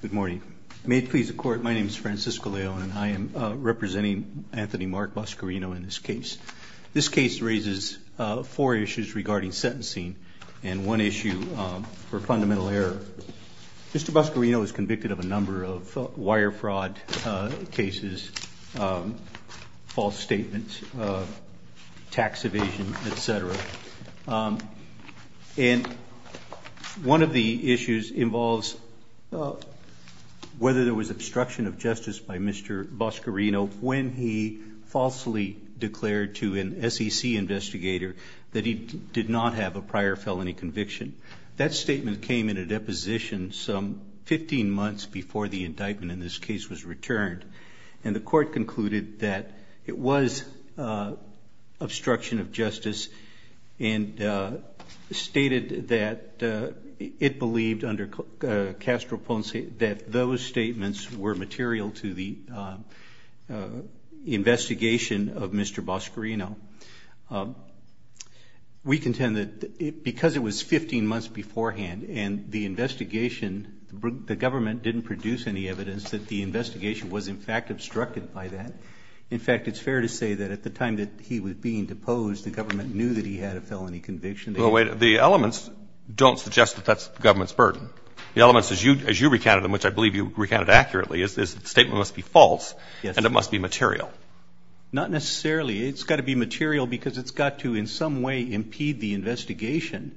Good morning. May it please the court, my name is Francisco Leone and I am representing Anthony Mark Boscarino in this case. This case raises four issues regarding sentencing and one issue for fundamental error. Mr. Boscarino is convicted of a number of wire fraud cases, false statements, tax evasion, etc. And one of the issues involves whether there was obstruction of justice by Mr. Boscarino when he falsely declared to an SEC investigator that he did not have a prior felony conviction. That statement came in a deposition some 15 months before the indictment in this case was returned. And the court concluded that it was obstruction of justice and stated that it believed under Castro Ponce that those statements were material to the investigation of Mr. Boscarino. We contend that because it was 15 months beforehand and the investigation, the government didn't produce any evidence that the investigation was in fact obstructed by that. In fact, it's fair to say that at the time that he was being deposed, the government knew that he had a felony conviction. Well, wait, the elements don't suggest that that's the government's burden. The elements as you recounted, which I believe you recounted accurately, is that the statement must be false and it must be material. Not necessarily. It's got to be material because it's got to in some way impede the investigation.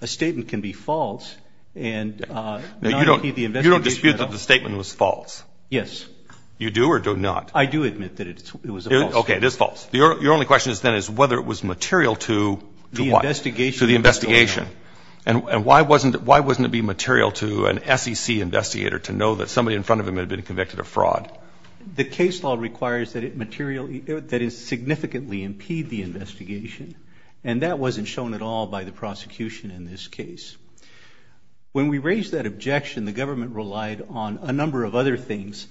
A statement can be false and not impede the investigation. You don't dispute that the statement was false? Yes. You do or do not? I do admit that it was a false statement. Okay, it is false. Your only question then is whether it was material to what? The investigation. To the investigation. And why wasn't it be material to an SEC investigator to know that somebody in front of him had been convicted of fraud? The case law requires that it materially, that it significantly impede the investigation. And that wasn't shown at all by the prosecution in this case. When we raised that objection, the government relied on a number of other things,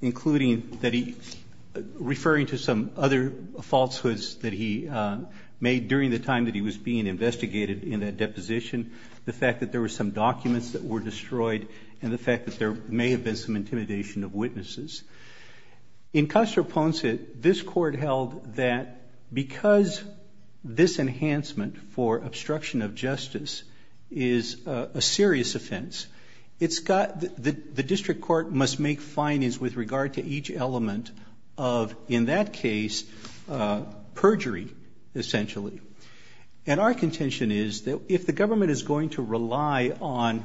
including that he, referring to some other falsehoods that he made during the time that he was being investigated in that deposition, the fact that there were some documents that were destroyed, and the fact that there may have been some intimidation of witnesses. In Castro Ponce, this court held that because this enhancement for obstruction of justice is a serious offense, the district court must make findings with regard to each element of, in that case, perjury, essentially. And our contention is that if the government is going to rely on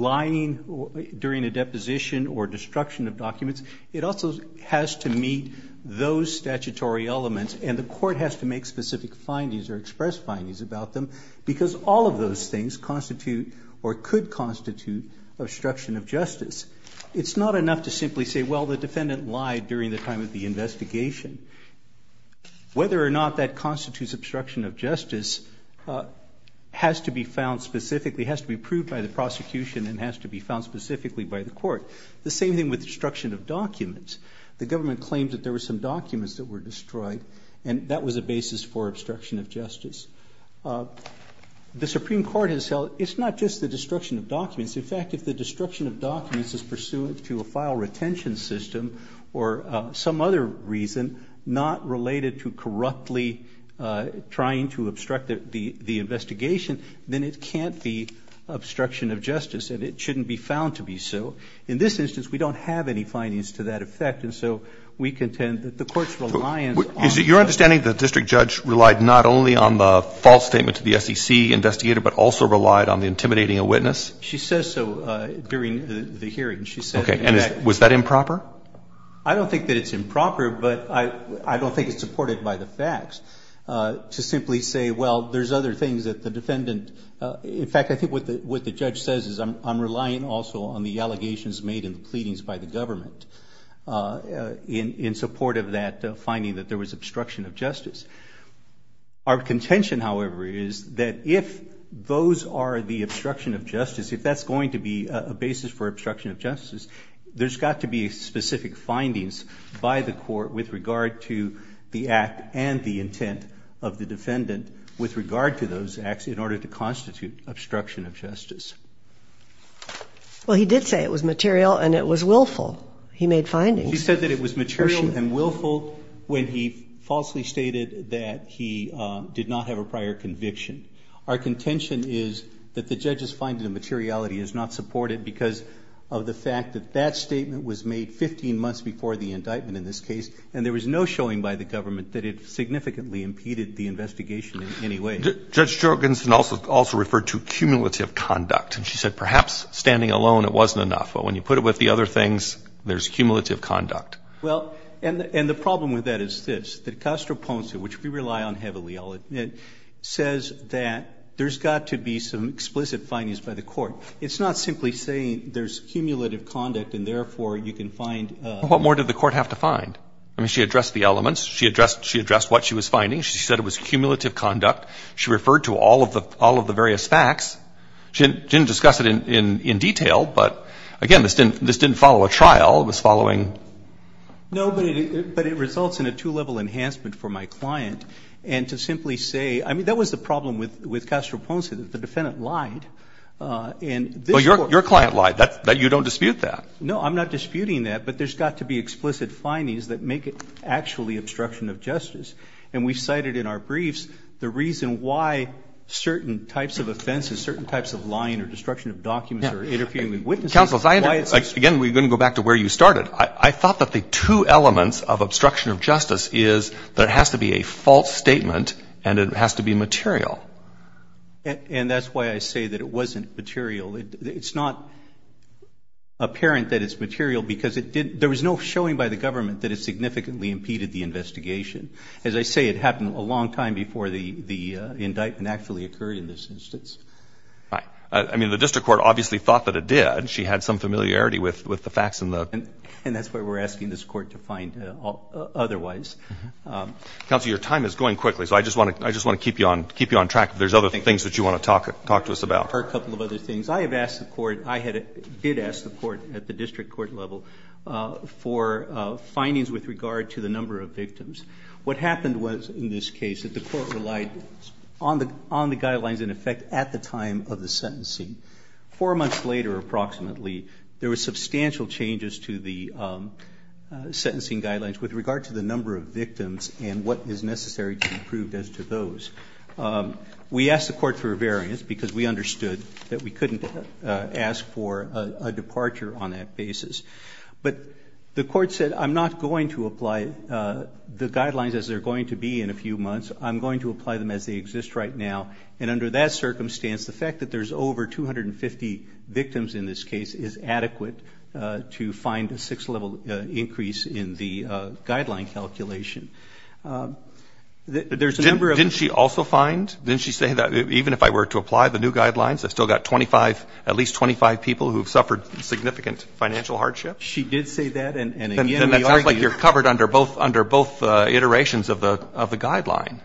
lying during a deposition or destruction of documents, it also has to meet those statutory elements, and the court has to make specific findings or express findings about them, because all of those things constitute or could constitute obstruction of justice. It's not enough to simply say, well, the defendant lied during the time of the investigation. Whether or not that constitutes obstruction of justice has to be found specifically, has to be proved by the prosecution, and has to be found specifically by the court. The same thing with destruction of documents. The government claimed that there were some documents that were destroyed, and that was a basis for obstruction of justice. The Supreme Court has held it's not just the destruction of documents. In fact, if the destruction of documents is pursuant to a file retention system or some other reason not related to corruptly trying to obstruct the investigation, then it can't be obstruction of justice, and it shouldn't be found to be so. In this instance, we don't have any findings to that effect, and so we contend that the court's reliance on Is it your understanding the district judge relied not only on the false statement to the SEC investigator, but also relied on the intimidating a witness? She says so during the hearing. She said that Okay. And was that improper? I don't think that it's improper, but I don't think it's supported by the facts to simply say, Well, there's other things that the defendant in fact, I think what the what the judge says is I'm relying also on the allegations made in the pleadings by the government in support of that finding that there was obstruction of justice. Our contention, however, is that if those are the obstruction of justice, if that's going to be a basis for obstruction of justice, there's got to be specific findings by the court with regard to the act and the intent of the defendant with regard to those acts in order to constitute obstruction of justice. Well, he did say it was material and it was willful. He made findings. He said that it was material and willful when he falsely stated that he did not have a prior conviction. Our contention is that the judge's finding of materiality is not supported because of the fact that that statement was made 15 months before the indictment in this case and there was no showing by the government that it significantly impeded the investigation in any way. Judge Jorgensen also referred to cumulative conduct and she said perhaps standing alone it wasn't enough, but when you put it with the other things, there's cumulative conduct. Well, and the problem with that is this, that Castroponso, which we rely on heavily, says that there's got to be some explicit findings by the court. It's not simply saying there's cumulative conduct and therefore you can find. What more did the court have to find? I mean, she addressed the elements. She addressed what she was finding. She said it was cumulative conduct. She referred to all of the various facts. She didn't discuss it in detail, but again, this didn't follow a trial. It was following. No, but it results in a two-level enhancement for my client and to simply say, I mean, that was the problem with Castroponso, that the defendant lied and this court. Well, your client lied, that you don't dispute that. No, I'm not disputing that, but there's got to be explicit findings that make it actually obstruction of justice and we cited in our briefs the reason why certain types of offenses, certain types of lying or destruction of documents or interfering with witnesses. Counsel, again, we're going to go back to where you started. I thought that the two elements of obstruction of justice is that it has to be a false statement and it has to be material. And that's why I say that it wasn't material. It's not apparent that it's material because there was no showing by the government that it significantly impeded the investigation. As I say, it happened a long time before the indictment actually occurred in this instance. I mean, the district court obviously thought that it did. She had some familiarity with the facts and the evidence and that's why we're asking this court to find otherwise. Counsel, your time is going quickly, so I just want to keep you on track if there's other things that you want to talk to us about. A couple of other things. I have asked the court, I did ask the court at the district court level for findings with regard to the number of victims. What happened was in this case that the court relied on the guidelines in effect at the time of the sentencing. Four months later approximately, there were substantial changes to the sentencing guidelines with regard to the number of victims and what is necessary to be proved as to those. We asked the court for a variance because we understood that we couldn't ask for a departure on that basis. But the court said, I'm not going to apply the guidelines as they're going to be in a few months. I'm going to apply them as they exist right now. And under that circumstance, the fact that there's over 250 victims in this case is adequate to find a six-level increase in the guideline calculation. There's a number of... Didn't she also find, didn't she say that even if I were to apply the new guidelines, I've still got 25, at least 25 people who've suffered significant financial hardship? She did say that and again... And it sounds like you're covered under both iterations of the guideline.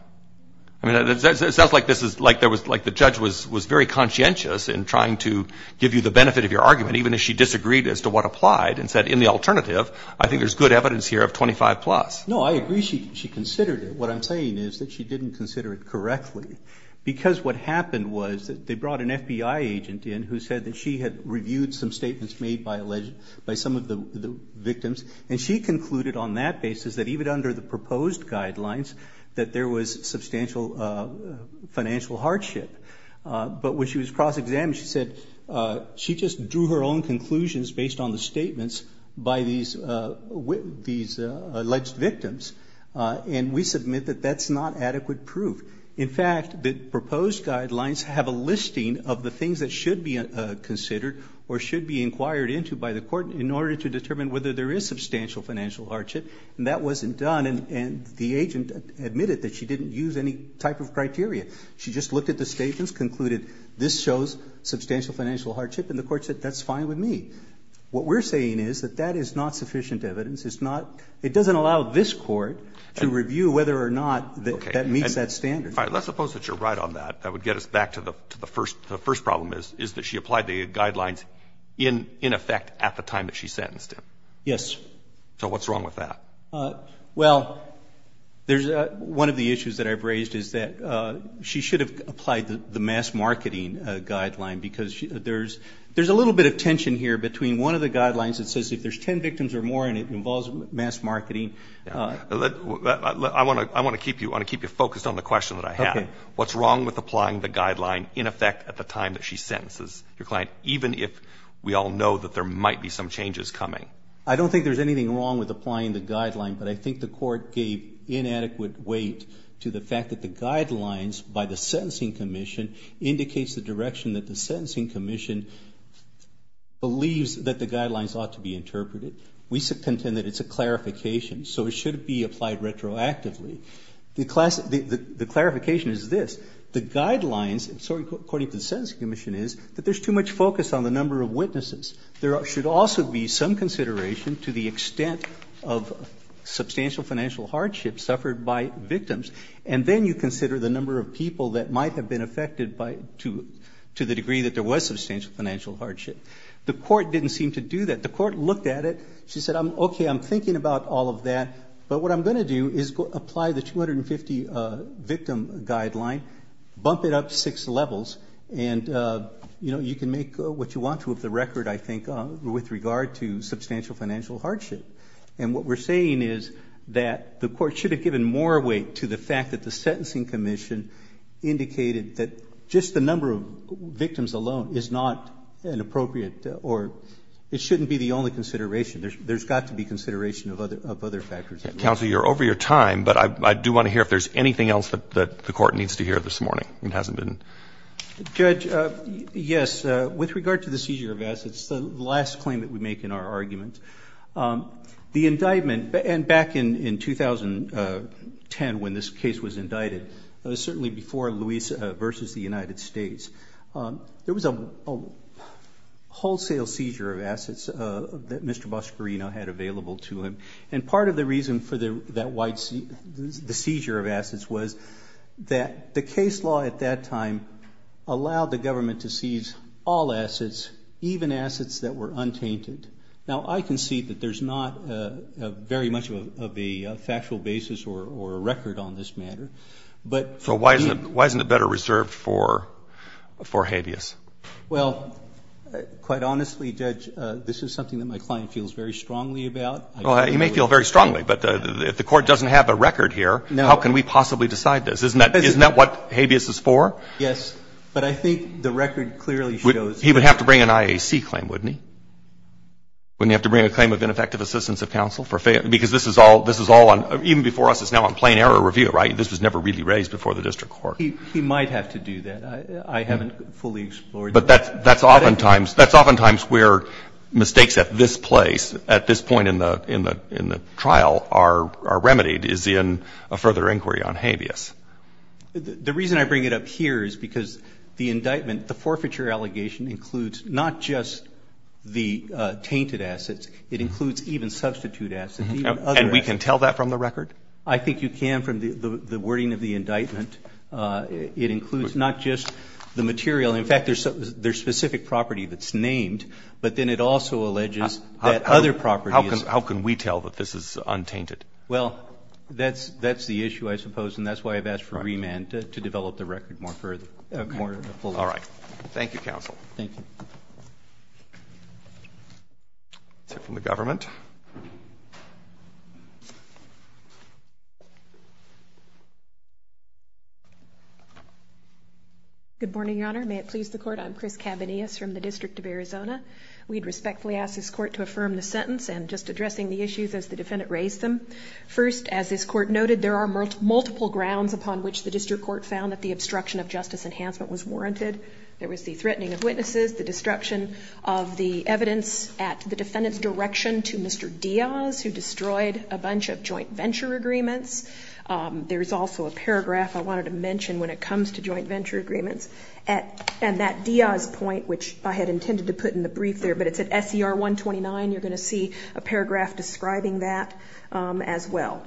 It sounds like the judge was very conscientious in trying to give you the benefit of your argument even if she disagreed as to what applied and said, in the alternative, I think there's good evidence here of 25 plus. No, I agree she considered it. What I'm saying is that she didn't consider it correctly because what happened was that they brought an FBI agent in who said that she had reviewed some statements made by some of the victims. And she concluded on that basis that even under the proposed guidelines, that there was substantial financial hardship. But when she was cross-examined, she said she just drew her own conclusions based on the statements by these alleged victims. And we submit that that's not adequate proof. In fact, the proposed guidelines have a listing of the things that should be considered or should be inquired into by the court in order to determine whether there is substantial financial hardship. And that wasn't done and the agent admitted that she didn't use any type of criteria. She just looked at the statements, concluded this shows substantial financial hardship, and the court said that's fine with me. What we're saying is that that is not sufficient evidence. It's not, it doesn't allow this court to review whether or not that meets that standard. All right, let's suppose that you're right on that. That would get us back to the first problem is that she applied the guidelines in effect at the time that she sentenced him. Yes. So what's wrong with that? Well, there's, one of the issues that I've raised is that she should have applied the mass marketing guideline because there's a little bit of tension here between one of the guidelines that says if there's 10 victims or more in it, it involves mass marketing. I want to keep you focused on the question that I had. What's wrong with applying the guideline in effect at the time that she sentences your client, even if we all know that there might be some changes coming? I don't think there's anything wrong with applying the guideline, but I think the court gave inadequate weight to the fact that the guidelines by the sentencing commission indicates the direction that the sentencing commission believes that the guidelines ought to be interpreted. We contend that it's a clarification, so it should be applied retroactively. The clarification is this. The guidelines, according to the sentencing commission, is that there's too much focus on the number of witnesses. There should also be some consideration to the extent of substantial financial hardship suffered by victims, and then you consider the number of people that might have been affected to the degree that there was substantial financial hardship. The court didn't seem to do that. The court looked at it. She said, okay, I'm thinking about all of that, but what I'm going to do is apply the 250 victim guideline, bump it up six levels, and you can make what you want to of the record, I think, with regard to substantial financial hardship. And what we're saying is that the court should have given more weight to the fact that the sentencing commission indicated that just the number of victims alone is not an appropriate or it shouldn't be the only consideration. There's got to be consideration of other factors. Counsel, you're over your time, but I do want to hear if there's anything else that the court needs to hear this morning. It hasn't been. Judge, yes, with regard to the seizure of assets, the last claim that we make in our argument. The indictment, and back in 2010 when this case was indicted, certainly before Luis versus the United States, there was a wholesale seizure of assets that Mr. Boscorino had available to him, and part of the reason for the seizure of assets was that the case law at that time allowed the government to seize all assets, even assets that were untainted. Now, I concede that there's not very much of a factual basis or a record on this matter, but to me the case law at that time allowed the government to seize all assets, even assets that were untainted. So why isn't it better reserved for habeas? Well, quite honestly, Judge, this is something that my client feels very strongly about. Well, he may feel very strongly, but if the court doesn't have a record here, how can we possibly decide this? Isn't that what habeas is for? Yes, but I think the record clearly shows that. He would have to bring an IAC claim, wouldn't he? Wouldn't he have to bring a claim of ineffective assistance of counsel? Because this is all on, even before us, it's now on plain error review, right? This was never really raised before the district court. He might have to do that. I haven't fully explored that. But that's oftentimes where mistakes at this place, at this point in the trial, are remedied, is in a further inquiry on habeas. The reason I bring it up here is because the indictment, the forfeiture allegation, includes not just the tainted assets, it includes even substitute assets, even other assets. And we can tell that from the record? I think you can from the wording of the indictment. It includes not just the material. In fact, there's specific property that's named, but then it also alleges that other properties. How can we tell that this is untainted? Well, that's the issue, I suppose. And that's why I've asked for remand, to develop the record more fully. All right. Thank you, counsel. Thank you. That's it from the government. Good morning, Your Honor. May it please the Court? I'm Chris Cabanillas from the District of Arizona. We'd respectfully ask this Court to affirm the sentence, and just addressing the issues as the defendant raised them. First, as this Court noted, there are multiple grounds upon which the District Court found that the obstruction of justice enhancement was warranted. There was the threatening of witnesses, the destruction of the evidence at the defendant's direction to Mr. Diaz, who destroyed a bunch of joint venture agreements. There's also a paragraph I wanted to mention when it comes to joint venture agreements. And that Diaz point, which I had intended to put in the brief there, but it's at SCR 129, you're going to see a paragraph describing that as well.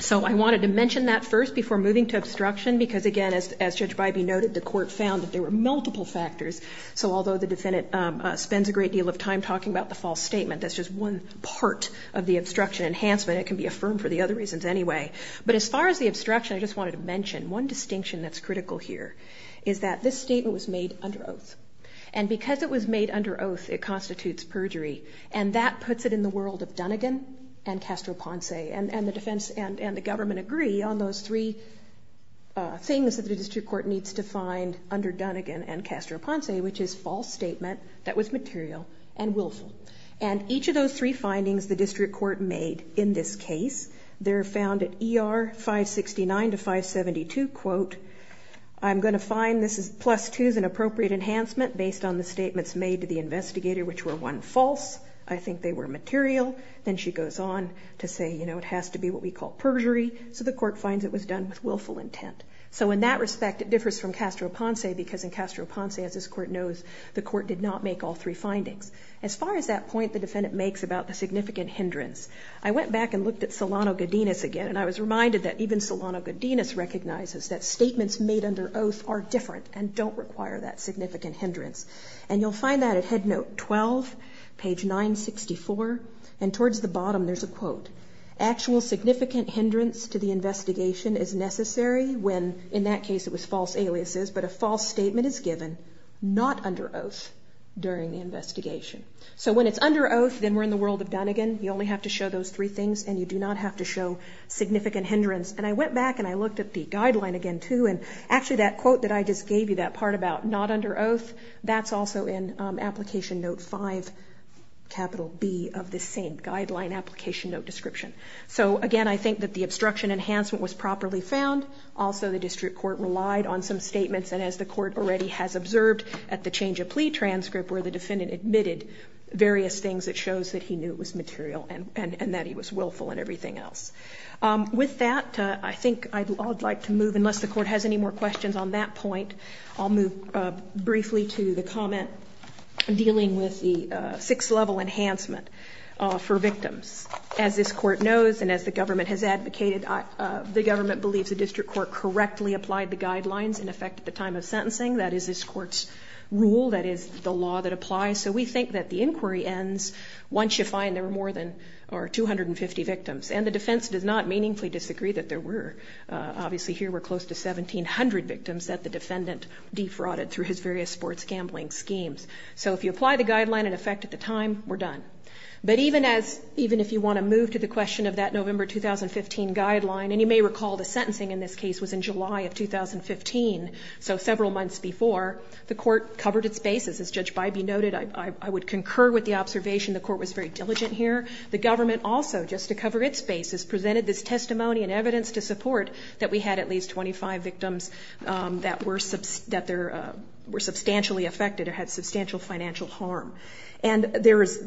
So I wanted to mention that first before moving to obstruction, because again, as Judge Bybee noted, the Court found that there were multiple factors. So although the defendant spends a great deal of time talking about the false statement, that's just one part of the obstruction enhancement. It can be affirmed for the other reasons anyway. But as far as the obstruction, I just wanted to mention one distinction that's critical here. Is that this statement was made under oath. And because it was made under oath, it constitutes perjury. And that puts it in the world of Dunnegan and Castro-Ponce. And the defense and the government agree on those three things that the District Court needs to find under Dunnegan and Castro-Ponce, which is false statement that was material and willful. And each of those three findings the District Court made in this case, they're found at ER 569 to 572, quote, I'm going to find this plus two is an appropriate enhancement based on the statements made to the investigator, which were one, false. I think they were material. Then she goes on to say, you know, it has to be what we call perjury. So the Court finds it was done with willful intent. So in that respect, it differs from Castro-Ponce, because in Castro-Ponce, as this Court knows, the Court did not make all three findings. As far as that point the defendant makes about the significant hindrance, I went back and looked at Solano-Godinez again, and I was reminded that even Solano-Godinez recognizes that statements made under oath are different and don't require that significant hindrance. And you'll find that at Head Note 12, page 964, and towards the bottom there's a quote, Actual significant hindrance to the investigation is necessary when, in that case it was false aliases, but a false statement is given, not under oath during the investigation. So when it's under oath, then we're in the world of Dunnegan. You only have to show those three things, and you do not have to show significant hindrance. And I went back and I looked at the guideline again, too, and actually that quote that I just gave you that part about, not under oath, that's also in Application Note 5, capital B, of this same guideline application note description. So again, I think that the obstruction enhancement was properly found. Also, the District Court relied on some statements, and as the Court already has observed at the change of plea transcript, where the defendant admitted various things that shows that he knew it was material and that he was willful and everything else. With that, I think I'd like to move, unless the Court has any more questions on that point, I'll move briefly to the comment dealing with the six-level enhancement for victims. As this Court knows, and as the government has advocated, the government believes the District Court correctly applied the guidelines in effect at the time of sentencing. That is this Court's rule, that is the law that applies. So we think that the inquiry ends once you find there are more than 250 victims. And the defense does not meaningfully disagree that there were. Obviously, here were close to 1,700 victims that the defendant defrauded through his various sports gambling schemes. So if you apply the guideline in effect at the time, we're done. But even if you want to move to the question of that November 2015 guideline, and you may recall the sentencing in this case was in July of 2015, so several months before, the Court covered its bases. As Judge Bybee noted, I would concur with the observation the Court was very diligent here. The government also, just to cover its bases, presented this testimony and evidence to support that we had at least 25 victims that were substantially affected or had substantial financial harm. And there is,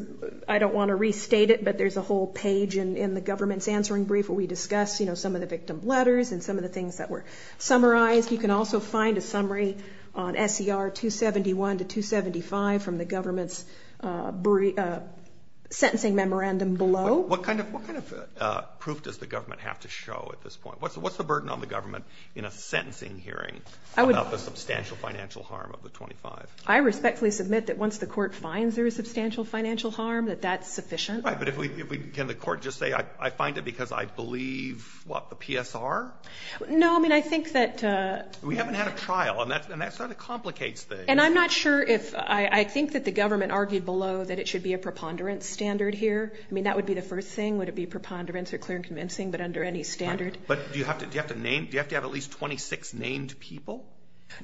I don't want to restate it, but there's a whole page in the government's answering brief where we discuss some of the victim letters and some of the things that were summarized. You can also find a summary on S.E.R. 271 to 275 from the government's sentencing memorandum below. What kind of proof does the government have to show at this point? What's the burden on the government in a sentencing hearing about the substantial financial harm of the 25? I respectfully submit that once the Court finds there is substantial financial harm, that that's sufficient. Right, but can the Court just say, I find it because I believe, what, the PSR? No, I mean, I think that... We haven't had a trial, and that sort of complicates things. And I'm not sure if, I think that the government argued below that it should be a preponderance standard here. I mean, that would be the first thing, would it be preponderance or clear and convincing, but under any standard. But do you have to have at least 26 named people?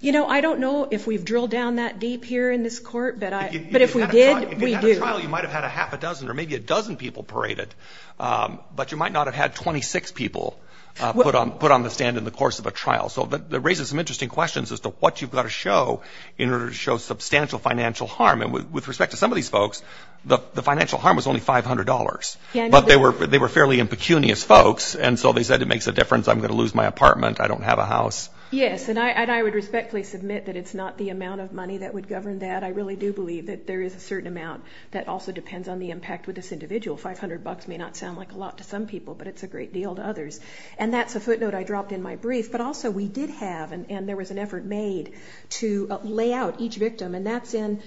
You know, I don't know if we've drilled down that deep here in this Court, but if we did, we do. If you had a trial, you might have had a half a dozen or maybe a dozen people paraded, but you might not have had 26 people put on the stand in the course of a trial. So that raises some interesting questions as to what you've got to show in order to show substantial financial harm. And with respect to some of these folks, the financial harm was only $500. But they were fairly impecunious folks, and so they said, it makes a difference, I'm going to lose my apartment, I don't have a house. Yes, and I would respectfully submit that it's not the amount of money that would govern that. I really do believe that there is a certain amount that also depends on the impact with this individual. $500 may not sound like a lot to some people, but it's a great deal to others. And that's a footnote I dropped in my brief. But also, we did have, and there was an effort made, to lay out each victim. And that's in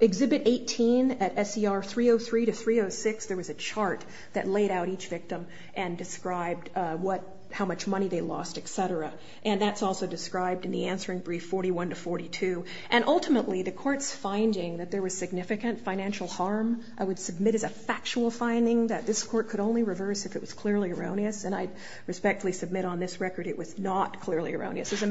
Exhibit 18 at SER 303 to 306. There was a chart that laid out each victim and described how much money they lost, etc. And that's also described in the answering brief 41 to 42. And ultimately, the Court's finding that there was significant financial harm, I would submit as a factual finding that this Court could only reverse if it was clearly erroneous. And I respectfully submit on this record it was not clearly erroneous. Could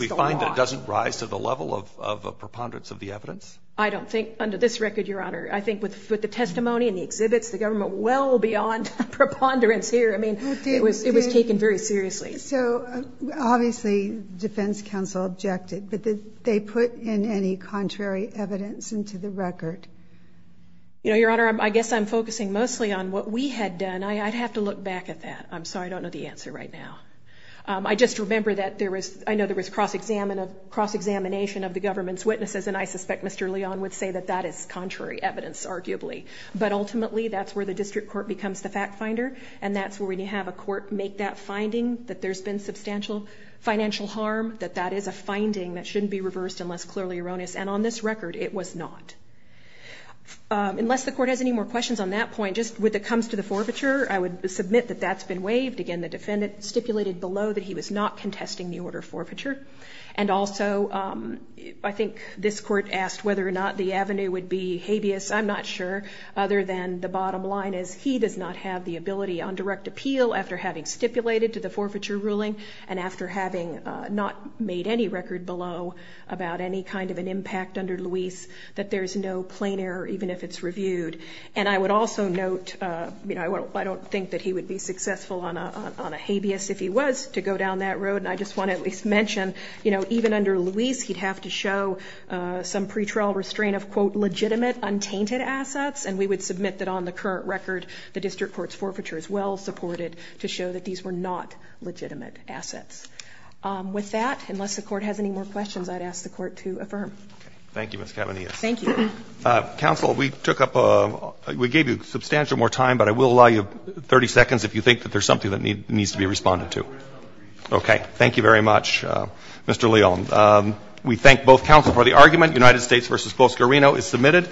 we find that it doesn't rise to the level of preponderance of the evidence? I don't think, under this record, Your Honor. I think with the testimony and the exhibits, the government well beyond preponderance here. I mean, it was taken very seriously. So, obviously, defense counsel objected, but did they put in any contrary evidence into the record? You know, Your Honor, I guess I'm focusing mostly on what we had done. I'd have to look back at that. I'm sorry, I don't know the answer right now. I just remember that there was, I know there was cross-examination of the government's witnesses, and I suspect Mr. Leon would say that that is contrary evidence, arguably. But ultimately, that's where the District Court becomes the fact-finder, and that's where we have a court make that finding that there's been substantial financial harm, that that is a finding that shouldn't be reversed unless clearly erroneous. And on this record, it was not. Unless the Court has any more questions on that point, just with it comes to the forfeiture, I would submit that that's been waived. Again, the defendant stipulated below that he was not contesting the order of forfeiture. And also, I think this Court asked whether or not the avenue would be habeas. I'm not sure, other than the bottom line is he does not have the ability on direct appeal after having stipulated to the forfeiture ruling and after having not made any record below about any kind of an impact under Luis that there's no plain error even if it's reviewed. And I would also note, I don't think that he would be successful on a habeas if he was to go down that road. And I just want to at least mention even under Luis, he'd have to show some pretrial restraint of quote, legitimate, untainted assets. And we would submit that on the current record the District Court's forfeiture is well-supported to show that these were not legitimate assets. With that, unless the Court has any more questions, I'd ask the Court to affirm. Thank you, Ms. Cavanias. Counsel, we took up we gave you substantial more time but I will allow you 30 seconds if you think that there's something that needs to be responded to. Okay. Thank you very much, Mr. Leone. We thank both counsel for the argument. United States v. Bosco Reno is submitted.